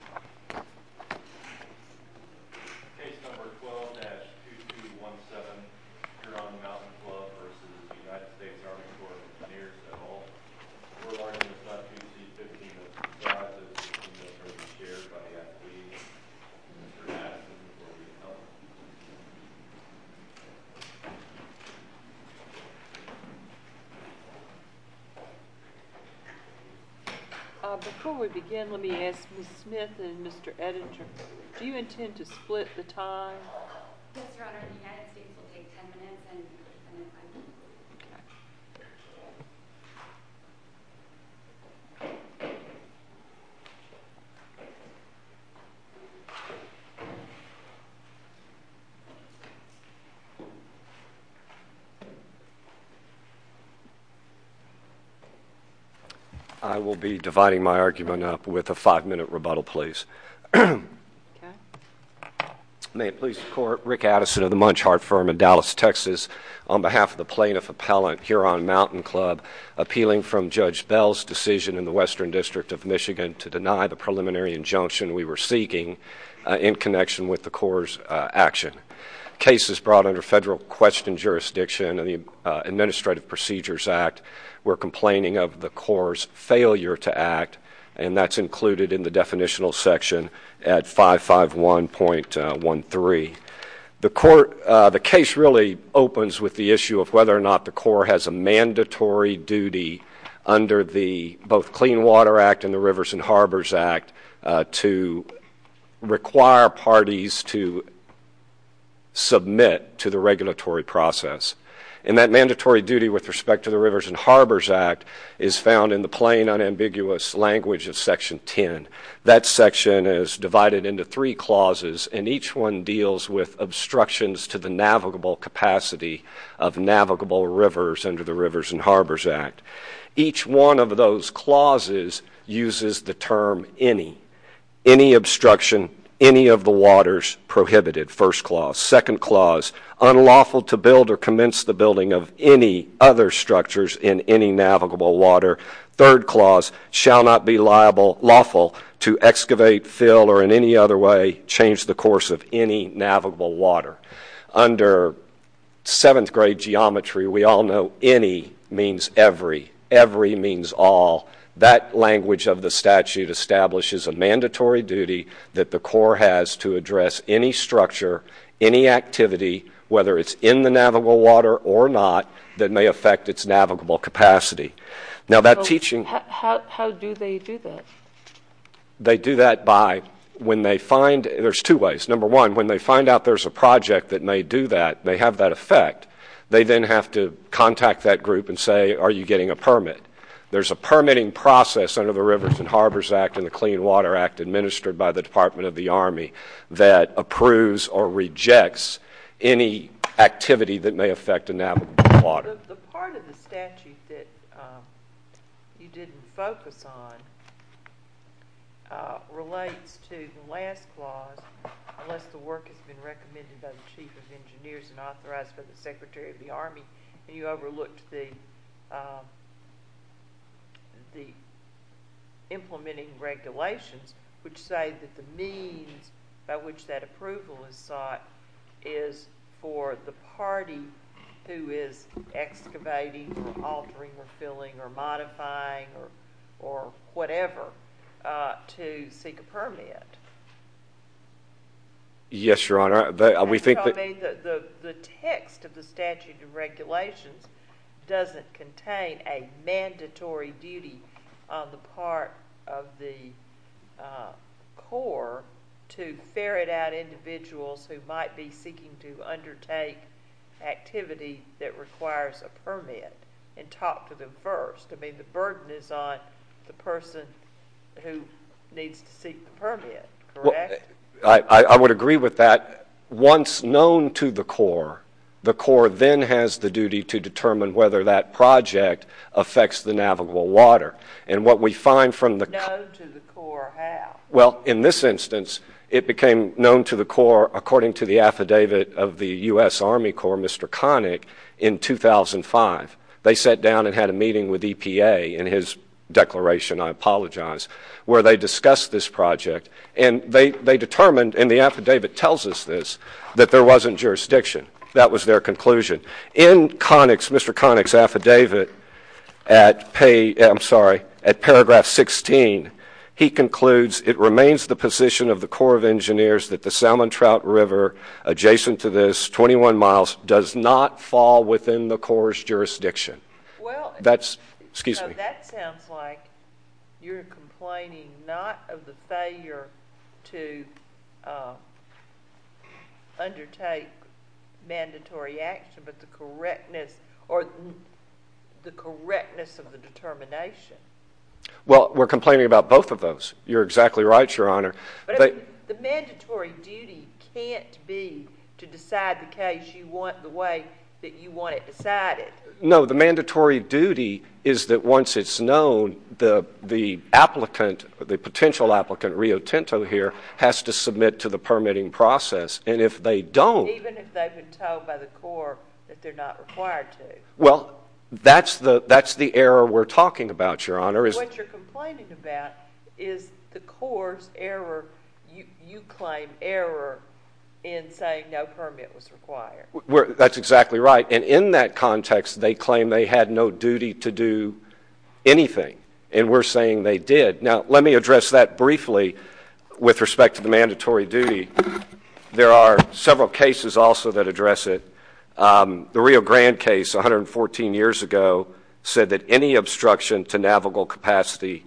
Case number 12-2217, Huron Mountain Club v. US Army Corps of Engineers at all. We're learning about two C-15s of the size of the C-15 that are being shared by the athletes. Mr. Madison will be helping us. Before we begin, let me ask Ms. Smith and Mr. Ettinger, do you intend to split the time? I will be dividing my argument up with a five-minute rebuttal, please. May it please the Court, Rick Addison of the Munchhart Firm in Dallas, Texas, on behalf of the plaintiff appellant, Huron Mountain Club, appealing from Judge Bell's decision in the Western District of Michigan to deny the preliminary injunction we were seeking in connection with the Corps' action. The case is brought under federal question jurisdiction of the Administrative Procedures Act. We're complaining of the Corps' failure to act, and that's included in the definitional section at 551.13. The case really opens with the issue of whether or not the Corps has a mandatory duty under both the Clean Water Act and the Rivers and Harbors Act to require parties to submit to the regulatory process. And that mandatory duty with respect to the Rivers and Harbors Act is found in the plain, unambiguous language of Section 10. That section is divided into three clauses, and each one deals with obstructions to the navigable capacity of navigable rivers under the Rivers and Harbors Act. Each one of those clauses uses the term any. Any obstruction, any of the waters prohibited, first clause. Second clause, unlawful to build or commence the building of any other structures in any navigable water. Third clause, shall not be lawful to excavate, fill, or in any other way change the course of any navigable water. Under 7th grade geometry, we all know any means every. Every means all. That language of the statute establishes a mandatory duty that the Corps has to address any structure, any activity, whether it's in the navigable water or not, that may affect its navigable capacity. How do they do that? They do that by, when they find, there's two ways. Number one, when they find out there's a project that may do that, may have that effect, they then have to contact that group and say, are you getting a permit? There's a permitting process under the Rivers and Harbors Act and the Clean Water Act administered by the Department of the Army that approves or rejects any activity that may affect a navigable water. The part of the statute that you didn't focus on relates to the last clause, unless the work has been recommended by the Chief of Engineers and authorized by the Secretary of the Army, and you overlooked the implementing regulations which say that the means by which that approval is sought is for the party who is excavating or altering or filling or modifying or whatever to seek a permit. Yes, Your Honor. The text of the statute and regulations doesn't contain a mandatory duty on the part of the Corps to ferret out individuals who might be seeking to undertake activity that requires a permit and talk to them first. I mean, the burden is on the person who needs to seek the permit, correct? I would agree with that. Once known to the Corps, the Corps then has the duty to determine whether that project affects the navigable water. And what we find from the Corps... Known to the Corps how? Well, in this instance, it became known to the Corps, according to the affidavit of the U.S. Army Corps, Mr. Connick, in 2005. They sat down and had a meeting with EPA in his declaration, I apologize, where they discussed this project. And they determined, and the affidavit tells us this, that there wasn't jurisdiction. That was their conclusion. In Mr. Connick's affidavit at paragraph 16, he concludes, it remains the position of the Corps of Engineers that the Salmon Trout River adjacent to this, 21 miles, does not fall within the Corps' jurisdiction. That sounds like you're complaining not of the failure to undertake mandatory action, but the correctness of the determination. Well, we're complaining about both of those. You're exactly right, Your Honor. The mandatory duty can't be to decide the case the way that you want it decided. No, the mandatory duty is that once it's known, the applicant, the potential applicant, Rio Tinto here, has to submit to the permitting process. And if they don't. Even if they've been told by the Corps that they're not required to. Well, that's the error we're talking about, Your Honor. What you're complaining about is the Corps' error, you claim error in saying no permit was required. That's exactly right. And in that context, they claim they had no duty to do anything. And we're saying they did. Now, let me address that briefly with respect to the mandatory duty. There are several cases also that address it. The Rio Grande case 114 years ago said that any obstruction to navigable capacity,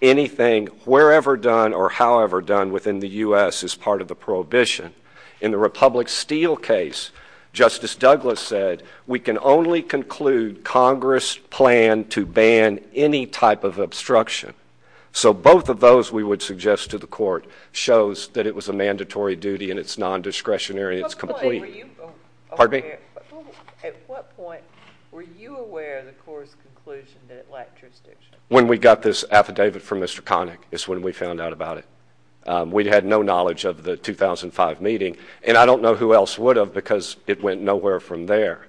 anything wherever done or however done within the U.S. is part of the prohibition. In the Republic Steel case, Justice Douglas said, we can only conclude Congress' plan to ban any type of obstruction. So both of those we would suggest to the court shows that it was a mandatory duty and it's non-discretionary and it's complete. At what point were you aware of the Corps' conclusion that it lacked jurisdiction? When we got this affidavit from Mr. Connick is when we found out about it. We had no knowledge of the 2005 meeting. And I don't know who else would have because it went nowhere from there.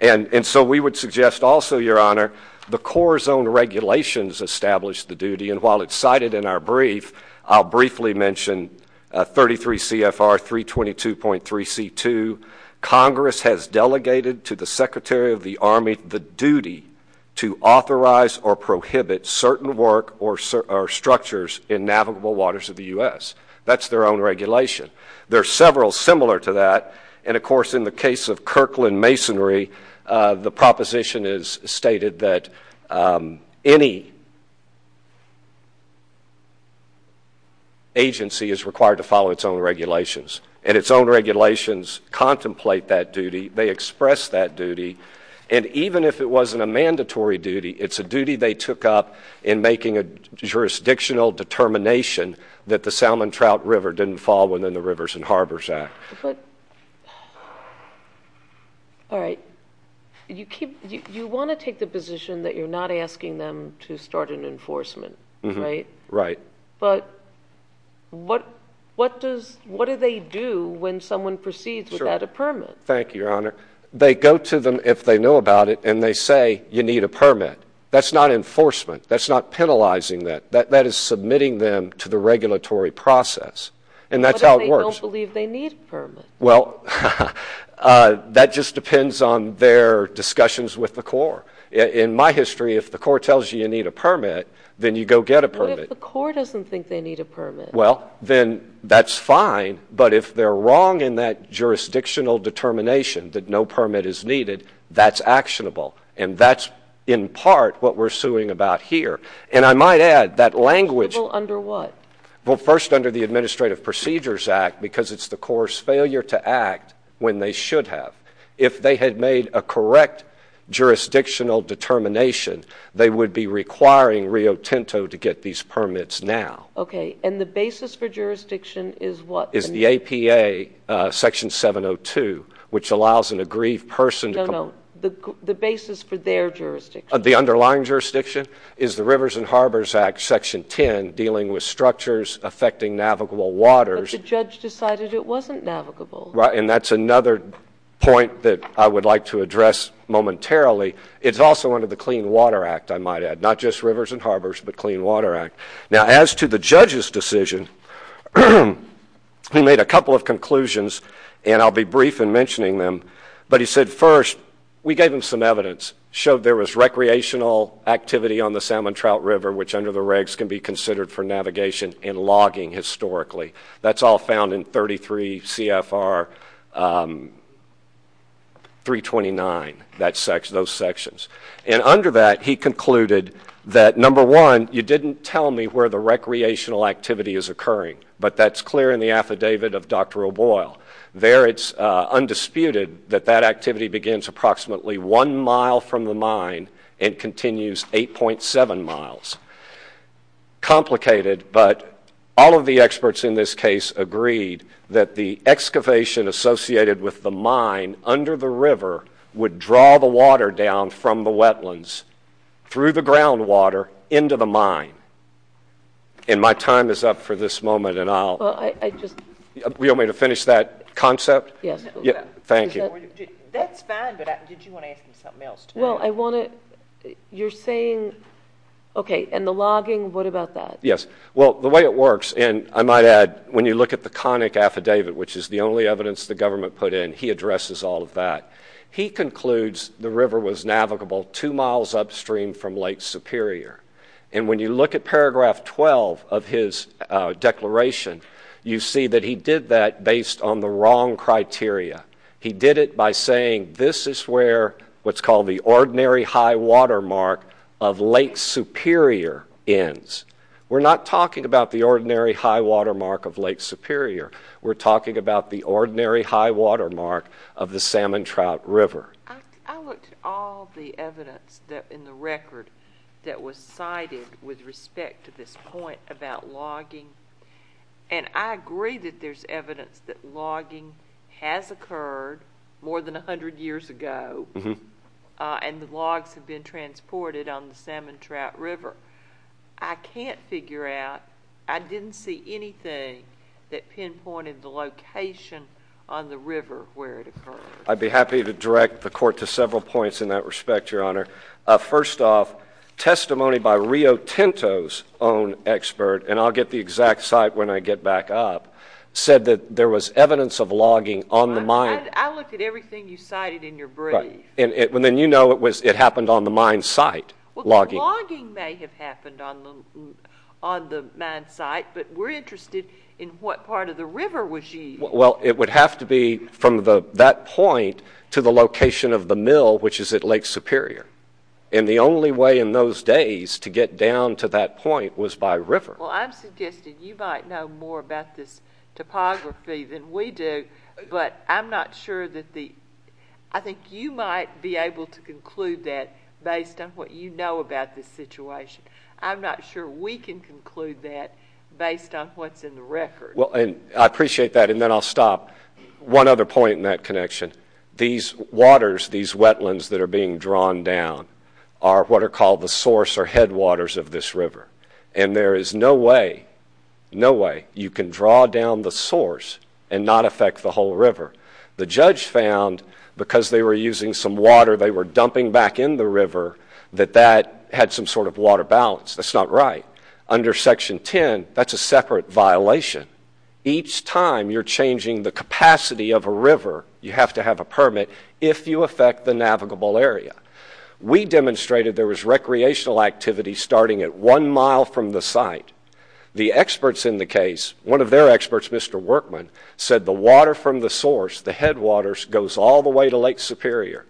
And so we would suggest also, Your Honor, the Corps' own regulations establish the duty. And while it's cited in our brief, I'll briefly mention 33 CFR 322.3C2, Congress has delegated to the Secretary of the Army the duty to authorize or prohibit certain work or structures in navigable waters of the U.S. That's their own regulation. There are several similar to that. And, of course, in the case of Kirkland Masonry, the proposition is stated that any agency is required to follow its own regulations. And its own regulations contemplate that duty. They express that duty. And even if it wasn't a mandatory duty, it's a duty they took up in making a jurisdictional determination that the Salmon Trout River didn't fall within the Rivers and Harbors Act. All right. You want to take the position that you're not asking them to start an enforcement, right? Right. But what do they do when someone proceeds without a permit? Thank you, Your Honor. They go to them, if they know about it, and they say, you need a permit. That's not enforcement. That's not penalizing that. That is submitting them to the regulatory process. And that's how it works. What if they don't believe they need a permit? Well, that just depends on their discussions with the Corps. In my history, if the Corps tells you you need a permit, then you go get a permit. What if the Corps doesn't think they need a permit? Well, then that's fine. But if they're wrong in that jurisdictional determination that no permit is needed, that's actionable. And that's, in part, what we're suing about here. And I might add, that language – Under what? Well, first, under the Administrative Procedures Act, because it's the Corps' failure to act when they should have. If they had made a correct jurisdictional determination, they would be requiring Rio Tinto to get these permits now. Okay. And the basis for jurisdiction is what? Is the APA, Section 702, which allows an aggrieved person – No, no. The basis for their jurisdiction. The underlying jurisdiction is the Rivers and Harbors Act, Section 10, dealing with structures affecting navigable waters. But the judge decided it wasn't navigable. Right. And that's another point that I would like to address momentarily. It's also under the Clean Water Act, I might add. Not just Rivers and Harbors, but Clean Water Act. Now, as to the judge's decision, he made a couple of conclusions, and I'll be brief in mentioning them. But he said, first, we gave him some evidence, showed there was recreational activity on the Salmon Trout River, which under the regs can be considered for navigation and logging historically. That's all found in 33 CFR 329, those sections. And under that, he concluded that, number one, you didn't tell me where the recreational activity is occurring. But that's clear in the affidavit of Dr. O'Boyle. There it's undisputed that that activity begins approximately one mile from the mine and continues 8.7 miles. Complicated, but all of the experts in this case agreed that the excavation associated with the mine under the river would draw the water down from the wetlands through the groundwater into the mine. And my time is up for this moment, and I'll... Well, I just... You want me to finish that concept? Yes. Thank you. That's fine, but did you want to ask him something else? Well, I want to... You're saying... Okay, and the logging, what about that? Yes. Well, the way it works, and I might add, when you look at the conic affidavit, which is the only evidence the government put in, and he addresses all of that, he concludes the river was navigable two miles upstream from Lake Superior. And when you look at paragraph 12 of his declaration, you see that he did that based on the wrong criteria. He did it by saying this is where what's called the ordinary high-water mark of Lake Superior ends. We're not talking about the ordinary high-water mark of Lake Superior. We're talking about the ordinary high-water mark of the Salmon Trout River. I looked at all the evidence in the record that was cited with respect to this point about logging, and I agree that there's evidence that logging has occurred more than 100 years ago, and the logs have been transported on the Salmon Trout River. I can't figure out. I didn't see anything that pinpointed the location on the river where it occurred. I'd be happy to direct the Court to several points in that respect, Your Honor. First off, testimony by Rio Tinto's own expert, and I'll get the exact site when I get back up, said that there was evidence of logging on the mine. I looked at everything you cited in your brief. And then you know it happened on the mine site, logging. Logging may have happened on the mine site, but we're interested in what part of the river was used. Well, it would have to be from that point to the location of the mill, which is at Lake Superior. And the only way in those days to get down to that point was by river. Well, I'm suggesting you might know more about this topography than we do, but I'm not sure that the— I'm not sure we can conclude that based on what's in the record. Well, and I appreciate that, and then I'll stop. One other point in that connection. These waters, these wetlands that are being drawn down, are what are called the source or headwaters of this river. And there is no way, no way you can draw down the source and not affect the whole river. The judge found, because they were using some water they were dumping back in the river, that that had some sort of water balance. That's not right. Under Section 10, that's a separate violation. Each time you're changing the capacity of a river, you have to have a permit if you affect the navigable area. We demonstrated there was recreational activity starting at one mile from the site. The experts in the case, one of their experts, Mr. Workman, said the water from the source, the headwaters, goes all the way to Lake Superior.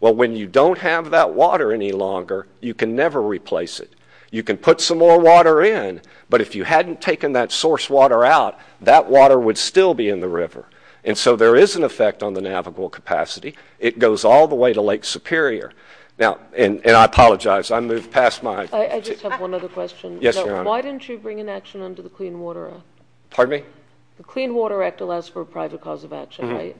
Well, when you don't have that water any longer, you can never replace it. You can put some more water in, but if you hadn't taken that source water out, that water would still be in the river. And so there is an effect on the navigable capacity. It goes all the way to Lake Superior. Now, and I apologize, I moved past my— I just have one other question. Yes, Your Honor. Why didn't you bring an action under the Clean Water Act? Pardon me? The Clean Water Act allows for a private cause of action, right?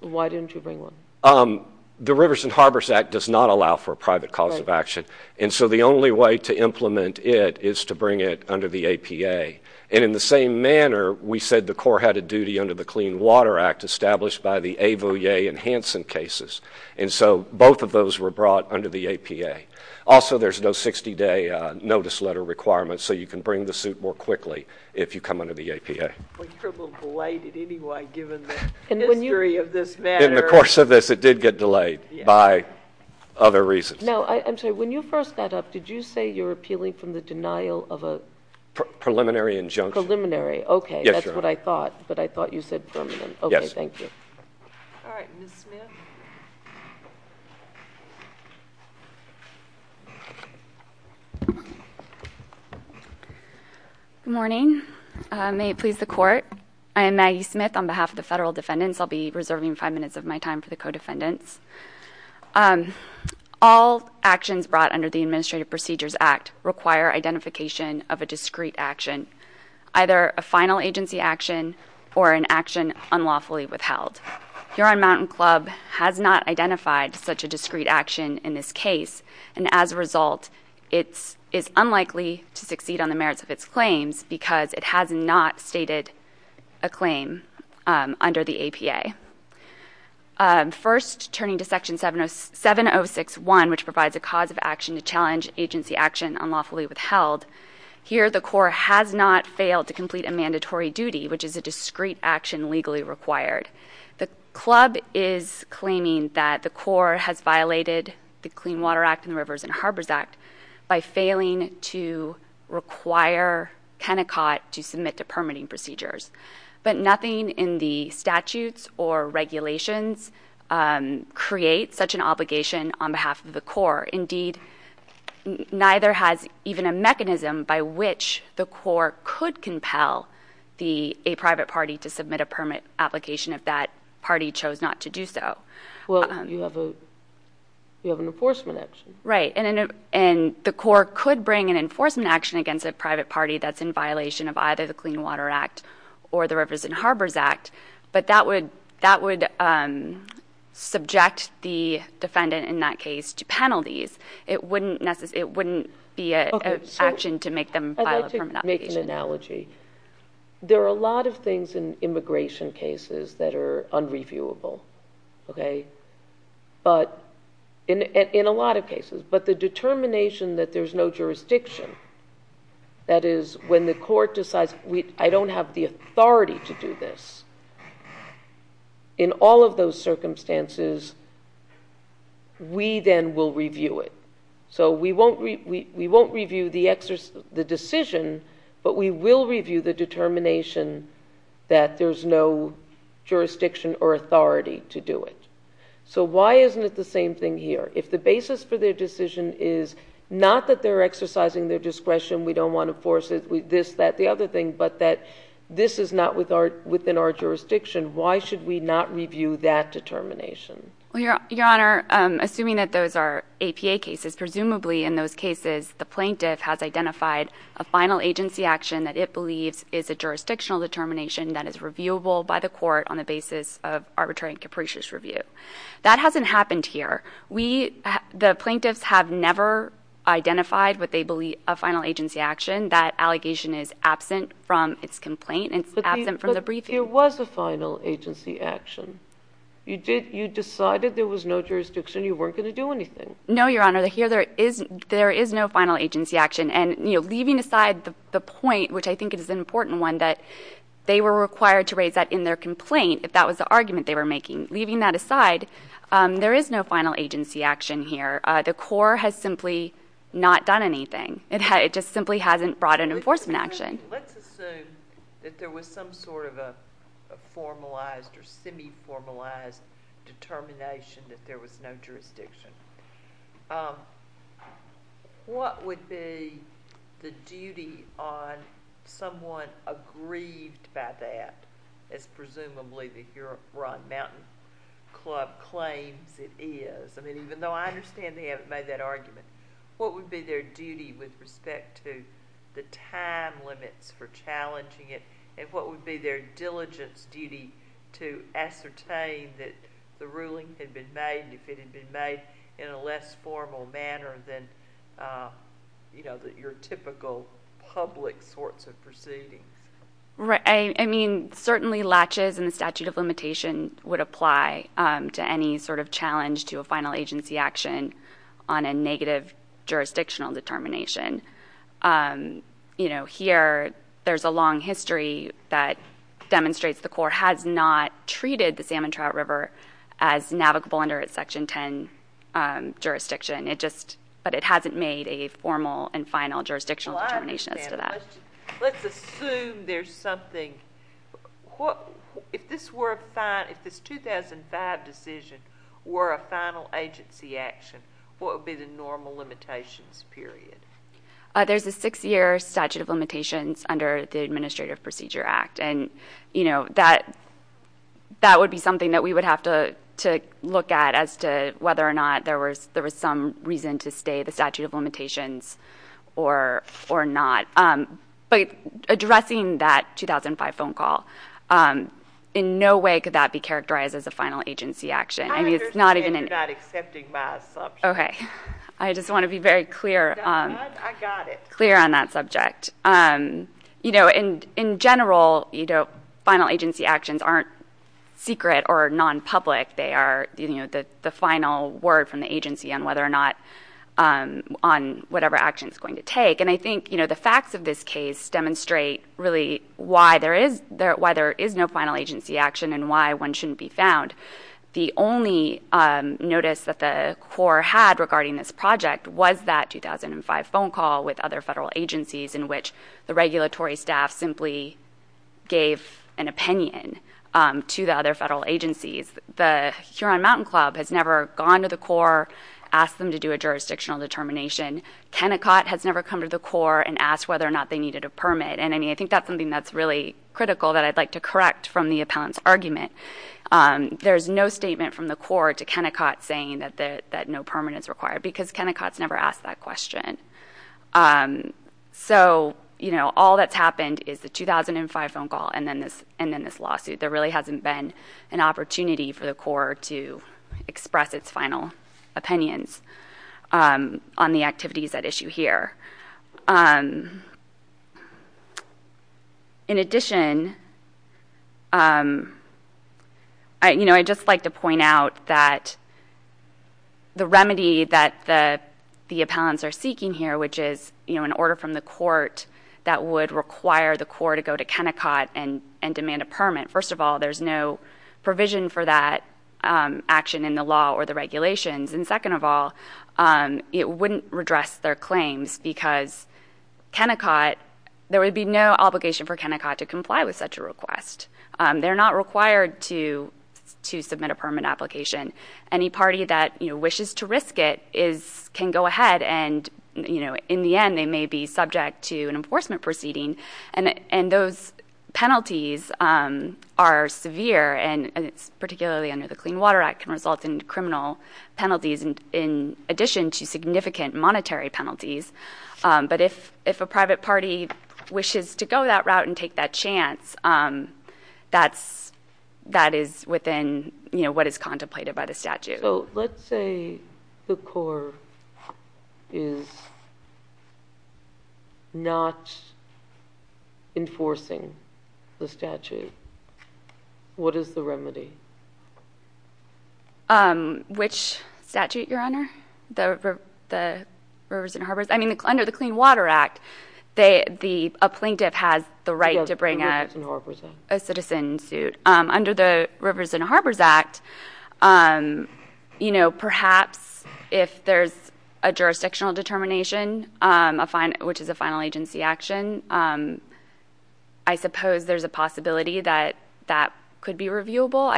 Why didn't you bring one? The Rivers and Harbors Act does not allow for a private cause of action. And so the only way to implement it is to bring it under the APA. And in the same manner, we said the Corps had a duty under the Clean Water Act established by the Avoyer and Hansen cases. And so both of those were brought under the APA. Also, there's no 60-day notice letter requirement, so you can bring the suit more quickly if you come under the APA. Well, you're a little belated anyway, given the history of this matter. But in the course of this, it did get delayed by other reasons. No, I'm sorry. When you first got up, did you say you were appealing from the denial of a— Preliminary injunction. Preliminary, okay. Yes, Your Honor. That's what I thought, but I thought you said permanent. Yes. Okay, thank you. All right, Ms. Smith. Good morning. May it please the Court. I am Maggie Smith on behalf of the Federal Defendants. I'll be reserving five minutes of my time for the co-defendants. All actions brought under the Administrative Procedures Act require identification of a discrete action, either a final agency action or an action unlawfully withheld. Huron Mountain Club has not identified such a discrete action in this case, and as a result, it is unlikely to succeed on the merits of its claims because it has not stated a claim under the APA. First, turning to Section 706.1, which provides a cause of action to challenge agency action unlawfully withheld, here the Corps has not failed to complete a mandatory duty, which is a discrete action legally required. The Club is claiming that the Corps has violated the Clean Water Act and the Rivers and Harbors Act by failing to require Kennecott to submit to permitting procedures, but nothing in the statutes or regulations creates such an obligation on behalf of the Corps. Indeed, neither has even a mechanism by which the Corps could compel a private party to submit a permit application if that party chose not to do so. Well, you have an enforcement action. Right, and the Corps could bring an enforcement action against a private party that's in violation of either the Clean Water Act or the Rivers and Harbors Act, but that would subject the defendant in that case to penalties. It wouldn't be an action to make them file a permit application. I'd like to make an analogy. There are a lot of things in immigration cases that are unreviewable, okay? In a lot of cases, but the determination that there's no jurisdiction, that is, when the court decides, I don't have the authority to do this, in all of those circumstances, we then will review it. So we won't review the decision, but we will review the determination that there's no jurisdiction or authority to do it. So why isn't it the same thing here? If the basis for their decision is not that they're exercising their discretion, we don't want to force this, that, the other thing, but that this is not within our jurisdiction, why should we not review that determination? Well, Your Honor, assuming that those are APA cases, presumably in those cases the plaintiff has identified a final agency action that it believes is a jurisdictional determination that is reviewable by the court on the basis of arbitrary and capricious review. That hasn't happened here. The plaintiffs have never identified what they believe a final agency action. That allegation is absent from its complaint. It's absent from the briefing. But there was a final agency action. You decided there was no jurisdiction. You weren't going to do anything. No, Your Honor. Here there is no final agency action, and leaving aside the point, which I think is an important one, that they were required to raise that in their complaint if that was the argument they were making. Leaving that aside, there is no final agency action here. The court has simply not done anything. It just simply hasn't brought an enforcement action. Let's assume that there was some sort of a formalized or semi-formalized determination that there was no jurisdiction. What would be the duty on someone aggrieved by that, as presumably the Huron Mountain Club claims it is? I mean, even though I understand they haven't made that argument, what would be their duty with respect to the time limits for challenging it, and what would be their diligence duty to ascertain that the ruling had been made, if it had been made in a less formal manner than your typical public sorts of proceedings? I mean, certainly latches in the statute of limitation would apply to any sort of challenge to a final agency action on a negative jurisdictional determination. Here there is a long history that demonstrates the court has not treated the Salmon Trout River as navigable under its Section 10 jurisdiction, but it hasn't made a formal and final jurisdictional determination as to that. Let's assume there's something. If this 2005 decision were a final agency action, what would be the normal limitations period? There's a six-year statute of limitations under the Administrative Procedure Act, and that would be something that we would have to look at as to whether or not there was some reason to stay the statute of limitations or not. But addressing that 2005 phone call, in no way could that be characterized as a final agency action. I understand you're not accepting my assumption. I just want to be very clear on that subject. In general, final agency actions aren't secret or non-public. They are the final word from the agency on whatever action it's going to take. I think the facts of this case demonstrate really why there is no final agency action and why one shouldn't be found. The only notice that the court had regarding this project was that 2005 phone call with other federal agencies in which the regulatory staff simply gave an opinion to the other federal agencies. The Huron Mountain Club has never gone to the court, asked them to do a jurisdictional determination. Kennecott has never come to the court and asked whether or not they needed a permit. I think that's something that's really critical that I'd like to correct from the appellant's argument. There's no statement from the court to Kennecott saying that no permit is required because Kennecott's never asked that question. All that's happened is the 2005 phone call and then this lawsuit. There really hasn't been an opportunity for the court to express its final opinions on the activities at issue here. In addition, I'd just like to point out that the remedy that the appellants are seeking here, which is an order from the court that would require the court to go to Kennecott and demand a permit. First of all, there's no provision for that action in the law or the regulations. Second of all, it wouldn't redress their claims because there would be no obligation for Kennecott to comply with such a request. They're not required to submit a permit application. Any party that wishes to risk it can go ahead and in the end they may be subject to an enforcement proceeding. Those penalties are severe and particularly under the Clean Water Act can result in criminal penalties in addition to significant monetary penalties. If a private party wishes to go that route and take that chance, that is within what is contemplated by the statute. Let's say the court is not enforcing the statute. What is the remedy? Which statute, Your Honor? The Rivers and Harbors? Under the Clean Water Act, a plaintiff has the right to bring a citizen suit. Under the Rivers and Harbors Act, perhaps if there's a jurisdictional determination, which is a final agency action, I suppose there's a possibility that that could be reviewable.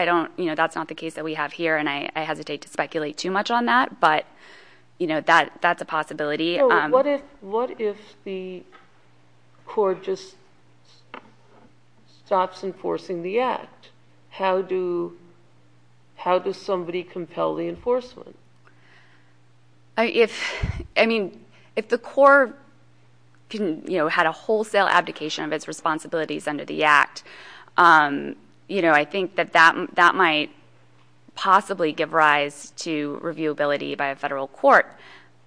That's not the case that we have here and I hesitate to speculate too much on that, but that's a possibility. What if the court just stops enforcing the act? How does somebody compel the enforcement? If the court had a wholesale abdication of its responsibilities under the act, I think that that might possibly give rise to reviewability by a federal court.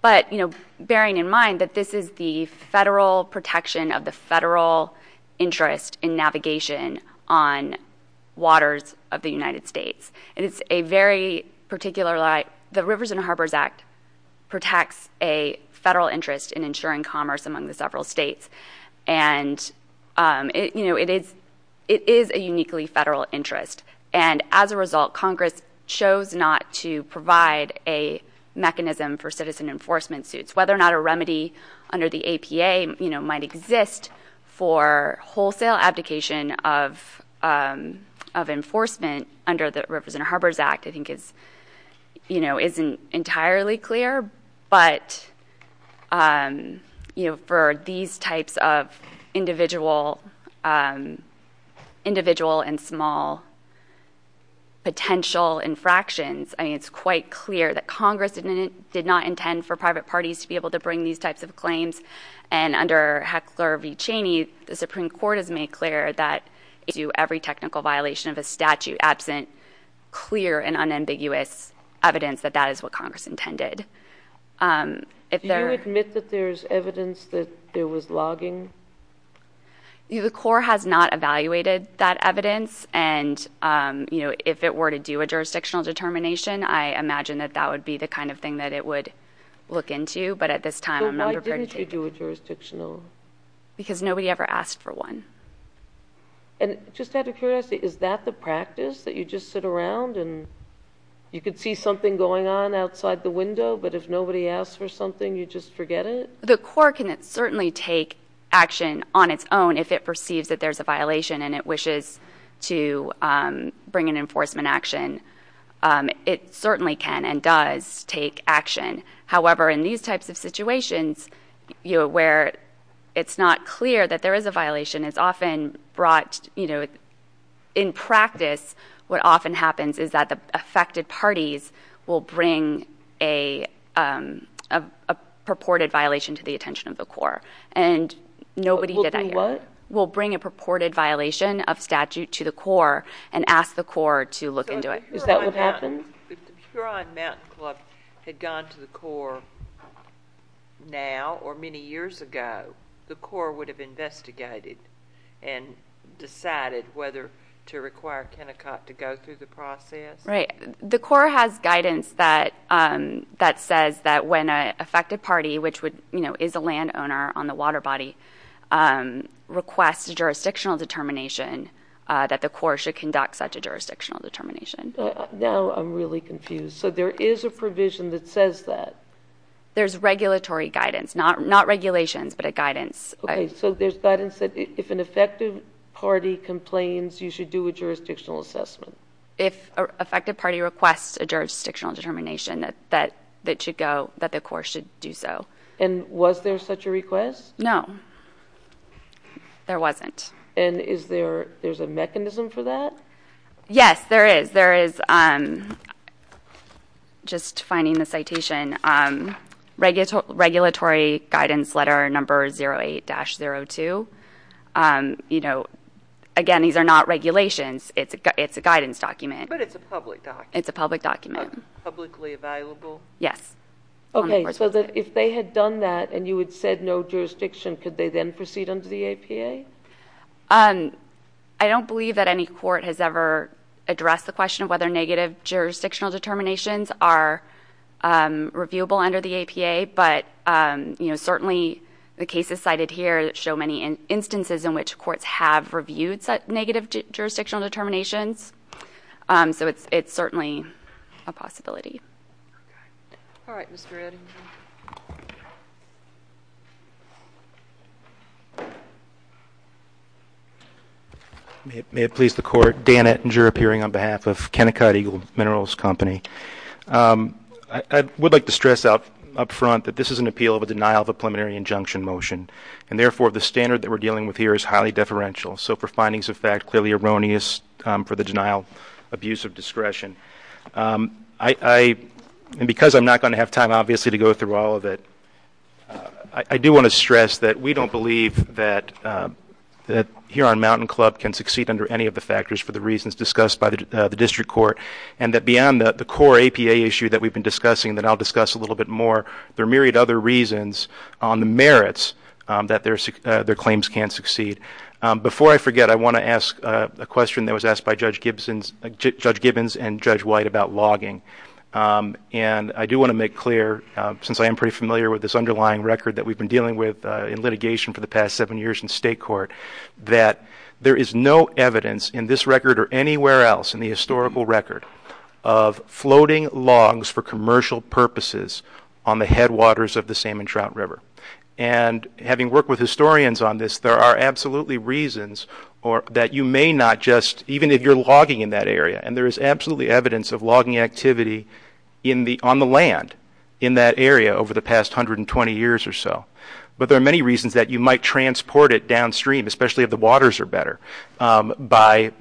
Bearing in mind that this is the federal protection of the federal interest in navigation on waters of the United States. The Rivers and Harbors Act protects a federal interest in ensuring commerce among the several states. It is a uniquely federal interest. As a result, Congress chose not to provide a mechanism for citizen enforcement suits. Whether or not a remedy under the APA might exist for wholesale abdication of enforcement under the Rivers and Harbors Act, I think isn't entirely clear. But for these types of individual and small potential infractions, it's quite clear that Congress did not intend for private parties to be able to bring these types of claims. Under Heckler v. Cheney, the Supreme Court has made clear that every technical violation of a statute absent clear and unambiguous evidence that that is what Congress intended. Do you admit that there's evidence that there was logging? The court has not evaluated that evidence. And if it were to do a jurisdictional determination, I imagine that that would be the kind of thing that it would look into. Why didn't you do a jurisdictional? Because nobody ever asked for one. And just out of curiosity, is that the practice, that you just sit around and you could see something going on outside the window, but if nobody asks for something, you just forget it? The court can certainly take action on its own if it perceives that there's a violation and it wishes to bring an enforcement action. It certainly can and does take action. However, in these types of situations where it's not clear that there is a violation, it's often brought, in practice, what often happens is that the affected parties will bring a purported violation to the attention of the court. And nobody did that. Will do what? Will bring a purported violation of statute to the court and ask the court to look into it. Is that what happened? If the Puron Mountain Club had gone to the Corps now or many years ago, the Corps would have investigated and decided whether to require Kennecott to go through the process? Right. The Corps has guidance that says that when an affected party, which is a landowner on the water body, requests a jurisdictional determination, that the Corps should conduct such a jurisdictional determination. Now I'm really confused. So there is a provision that says that? There's regulatory guidance, not regulations, but a guidance. Okay. So there's guidance that if an affected party complains, you should do a jurisdictional assessment? If an affected party requests a jurisdictional determination, that the Corps should do so. And was there such a request? No. There wasn't. And is there a mechanism for that? Yes, there is. There is. Just finding the citation. Regulatory guidance letter number 08-02. You know, again, these are not regulations. It's a guidance document. But it's a public document. It's a public document. Publicly available? Yes. Okay. So if they had done that and you had said no jurisdiction, could they then proceed under the APA? I don't believe that any court has ever addressed the question of whether negative jurisdictional determinations are reviewable under the APA. But, you know, certainly the cases cited here show many instances in which courts have reviewed negative jurisdictional determinations. So it's certainly a possibility. All right. Mr. Ettinger. May it please the Court. Dan Ettinger, appearing on behalf of Kennecott Eagle Minerals Company. I would like to stress up front that this is an appeal of a denial of a preliminary injunction motion. And, therefore, the standard that we're dealing with here is highly deferential. So for findings of fact clearly erroneous for the denial abuse of discretion. And because I'm not going to have time, obviously, to go through all of it, I do want to stress that we don't believe that Huron Mountain Club can succeed under any of the factors for the reasons discussed by the district court. And that beyond the core APA issue that we've been discussing that I'll discuss a little bit more, there are a myriad of other reasons on the merits that their claims can't succeed. Before I forget, I want to ask a question that was asked by Judge Gibbons and Judge White about logging. And I do want to make clear, since I am pretty familiar with this underlying record that we've been dealing with in litigation for the past seven years in state court, that there is no evidence in this record or anywhere else in the historical record of floating logs for commercial purposes on the headwaters of the Salmon Trout River. And having worked with historians on this, there are absolutely reasons that you may not just, even if you're logging in that area, and there is absolutely evidence of logging activity on the land in that area over the past 120 years or so. But there are many reasons that you might transport it downstream, especially if the waters are better, by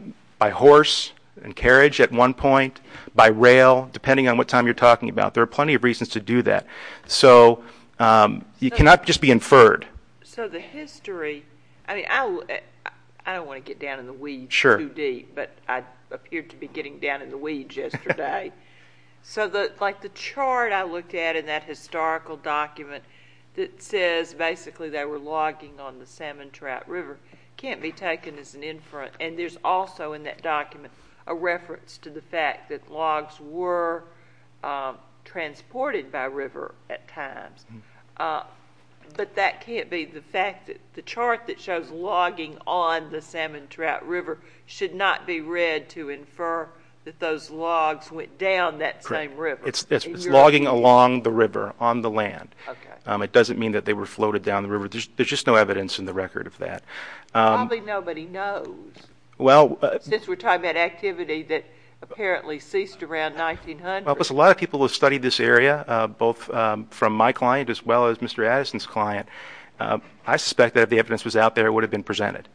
horse and carriage at one point, by rail, depending on what time you're talking about. There are plenty of reasons to do that. So you cannot just be inferred. So the history, I don't want to get down in the weeds too deep, but I appeared to be getting down in the weeds yesterday. So the chart I looked at in that historical document that says basically they were logging on the Salmon Trout River can't be taken as an inference. And there's also in that document a reference to the fact that logs were transported by river at times. But that can't be the fact that the chart that shows logging on the Salmon Trout River should not be read to infer that those logs went down that same river. It's logging along the river on the land. It doesn't mean that they were floated down the river. There's just no evidence in the record of that. Probably nobody knows, since we're talking about activity that apparently ceased around 1900. A lot of people have studied this area, both from my client as well as Mr. Addison's client. I suspect that if the evidence was out there, it would have been presented.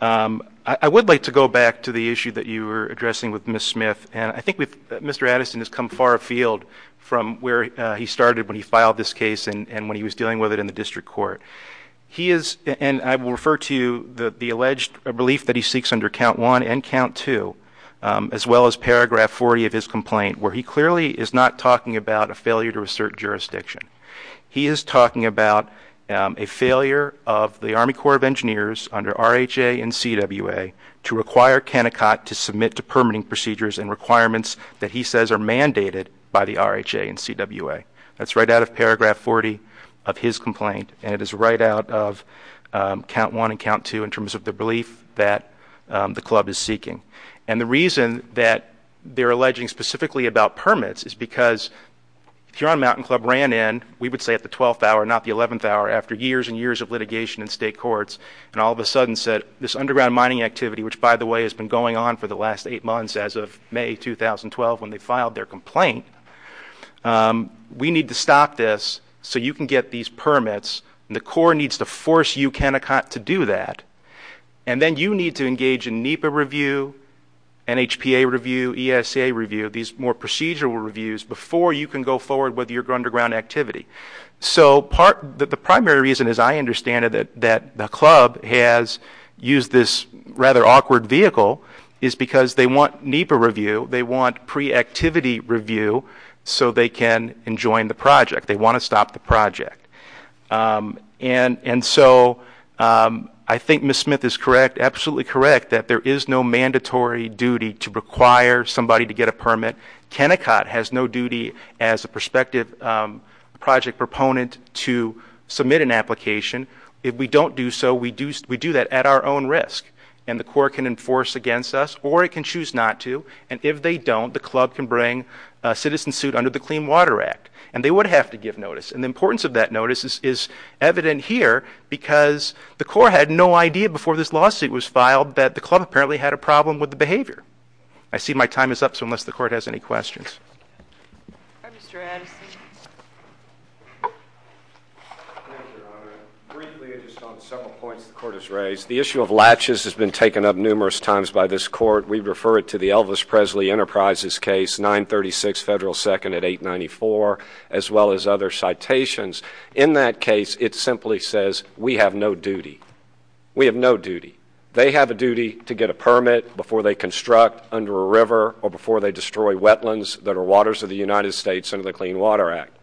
I would like to go back to the issue that you were addressing with Ms. Smith. And I think Mr. Addison has come far afield from where he started when he filed this case and when he was dealing with it in the district court. He is, and I will refer to the alleged belief that he seeks under count one and count two, as well as paragraph 40 of his complaint, where he clearly is not talking about a failure to assert jurisdiction. He is talking about a failure of the Army Corps of Engineers under RHA and CWA to require Kennecott to submit to permitting procedures and requirements that he says are mandated by the RHA and CWA. That's right out of paragraph 40 of his complaint, and it is right out of count one and count two in terms of the belief that the club is seeking. And the reason that they're alleging specifically about permits is because Huron Mountain Club ran in, we would say at the 12th hour, not the 11th hour, after years and years of litigation in state courts, and all of a sudden said this underground mining activity, which by the way has been going on for the last eight months as of May 2012 when they filed their complaint, we need to stop this so you can get these permits. The Corps needs to force you, Kennecott, to do that. And then you need to engage in NEPA review, NHPA review, ESA review, these more procedural reviews before you can go forward with your underground activity. So the primary reason, as I understand it, that the club has used this rather awkward vehicle is because they want NEPA review, they want pre-activity review so they can enjoin the project. They want to stop the project. And so I think Ms. Smith is correct, absolutely correct, that there is no mandatory duty to require somebody to get a permit. Kennecott has no duty as a prospective project proponent to submit an application. If we don't do so, we do that at our own risk. And the Corps can enforce against us, or it can choose not to, and if they don't, the club can bring a citizen suit under the Clean Water Act. And they would have to give notice, and the importance of that notice is evident here because the Corps had no idea before this lawsuit was filed that the club apparently had a problem with the behavior. I see my time is up, so unless the Court has any questions. Mr. Addison. Thank you, Your Honor. Briefly, just on several points the Court has raised, the issue of latches has been taken up numerous times by this Court. We refer it to the Elvis Presley Enterprises case, 936 Federal 2nd at 894, as well as other citations. In that case, it simply says we have no duty. We have no duty. They have a duty to get a permit before they construct under a river or before they destroy wetlands that are waters of the United States under the Clean Water Act.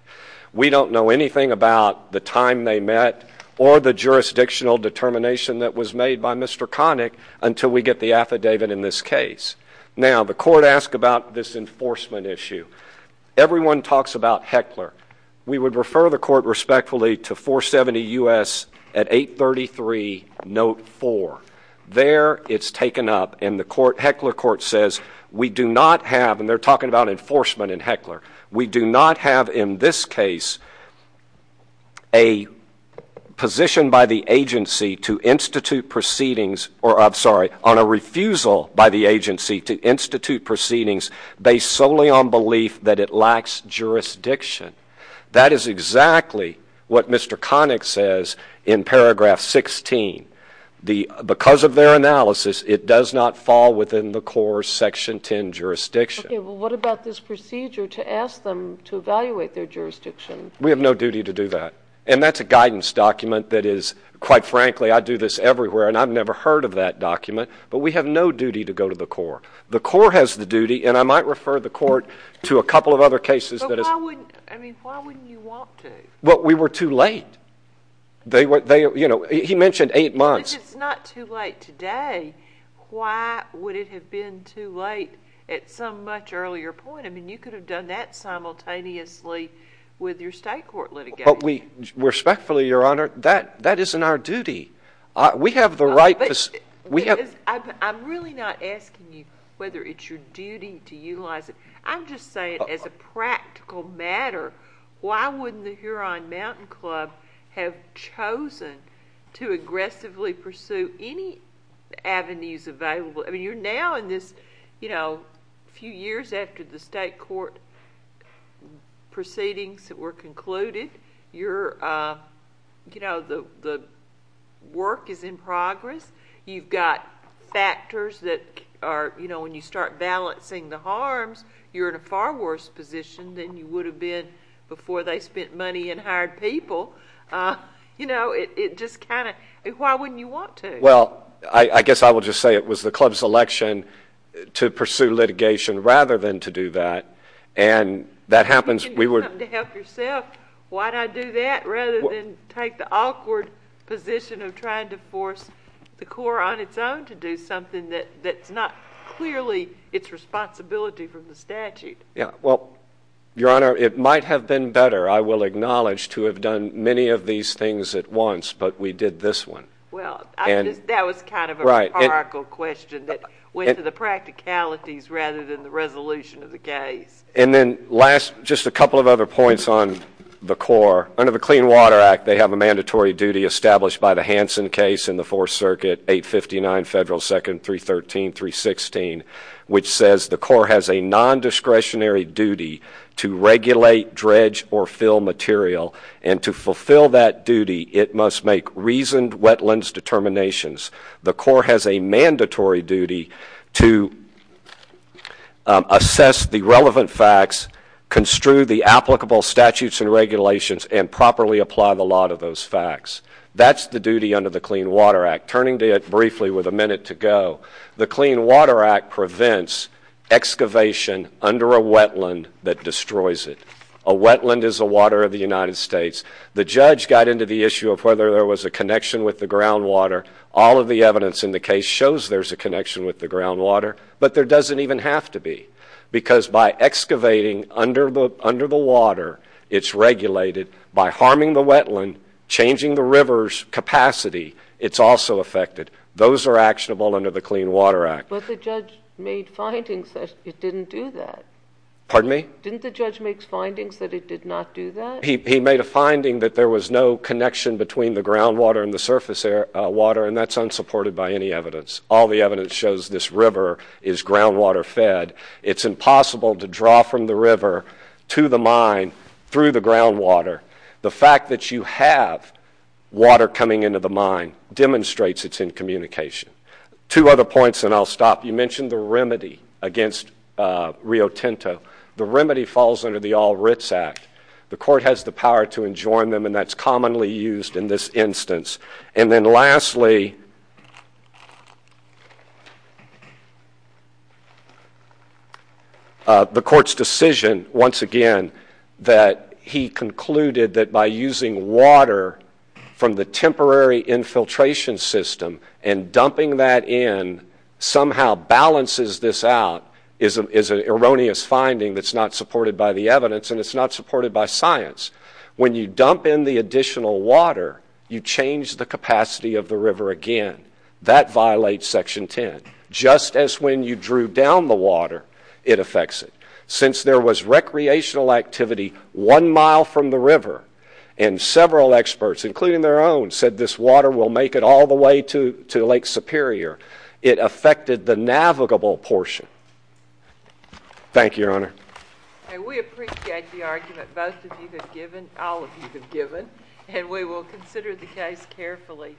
We don't know anything about the time they met or the jurisdictional determination that was made by Mr. Connick until we get the affidavit in this case. Now, the Court asked about this enforcement issue. Everyone talks about Heckler. We would refer the Court respectfully to 470 U.S. at 833 Note 4. There, it's taken up, and the Heckler Court says we do not have, and they're talking about enforcement in Heckler, we do not have in this case a position by the agency to institute proceedings, or I'm sorry, on a refusal by the agency to institute proceedings based solely on belief that it lacks jurisdiction. That is exactly what Mr. Connick says in paragraph 16. Because of their analysis, it does not fall within the core Section 10 jurisdiction. Okay, well, what about this procedure to ask them to evaluate their jurisdiction? We have no duty to do that, and that's a guidance document that is, quite frankly, I do this everywhere and I've never heard of that document, but we have no duty to go to the Corps. The Corps has the duty, and I might refer the Court to a couple of other cases. But why wouldn't you want to? Well, we were too late. He mentioned eight months. If it's not too late today, why would it have been too late at some much earlier point? I mean, you could have done that simultaneously with your state court litigation. But respectfully, Your Honor, that isn't our duty. We have the right facility. I'm really not asking you whether it's your duty to utilize it. I'm just saying as a practical matter, why wouldn't the Huron Mountain Club have chosen to aggressively pursue any avenues available? I mean, you're now in this, you know, few years after the state court proceedings were concluded. You're, you know, the work is in progress. You've got factors that are, you know, when you start balancing the harms, you're in a far worse position than you would have been before they spent money and hired people. You know, it just kind of, why wouldn't you want to? Well, I guess I will just say it was the club's election to pursue litigation rather than to do that. And that happens. You can come to help yourself. Why did I do that rather than take the awkward position of trying to force the court on its own to do something that's not clearly its responsibility from the statute? Yeah, well, Your Honor, it might have been better, I will acknowledge, to have done many of these things at once, but we did this one. Well, that was kind of a rhetorical question that went to the practicalities rather than the resolution of the case. And then last, just a couple of other points on the Corps. Under the Clean Water Act, they have a mandatory duty established by the Hansen case in the Fourth Circuit, 859 Federal 2nd 313-316, which says the Corps has a nondiscretionary duty to regulate, dredge, or fill material. And to fulfill that duty, it must make reasoned wetlands determinations. The Corps has a mandatory duty to assess the relevant facts, construe the applicable statutes and regulations, and properly apply the law to those facts. That's the duty under the Clean Water Act. Turning to it briefly with a minute to go, the Clean Water Act prevents excavation under a wetland that destroys it. A wetland is the water of the United States. The judge got into the issue of whether there was a connection with the groundwater. All of the evidence in the case shows there's a connection with the groundwater, but there doesn't even have to be, because by excavating under the water, it's regulated. By harming the wetland, changing the river's capacity, it's also affected. Those are actionable under the Clean Water Act. But the judge made findings that it didn't do that. Pardon me? Didn't the judge make findings that it did not do that? He made a finding that there was no connection between the groundwater and the surface water, and that's unsupported by any evidence. All the evidence shows this river is groundwater-fed. It's impossible to draw from the river to the mine through the groundwater. The fact that you have water coming into the mine demonstrates it's in communication. Two other points, and I'll stop. You mentioned the remedy against Rio Tinto. The remedy falls under the All Writs Act. The court has the power to enjoin them, and that's commonly used in this instance. And then lastly, the court's decision, once again, that he concluded that by using water from the temporary infiltration system and dumping that in somehow balances this out is an erroneous finding that's not supported by the evidence, and it's not supported by science. When you dump in the additional water, you change the capacity of the river again. That violates Section 10, just as when you drew down the water, it affects it. Since there was recreational activity one mile from the river, and several experts, including their own, said this water will make it all the way to Lake Superior, it affected the navigable portion. Thank you, Your Honor. We appreciate the argument both of you have given, all of you have given, and we will consider the case carefully.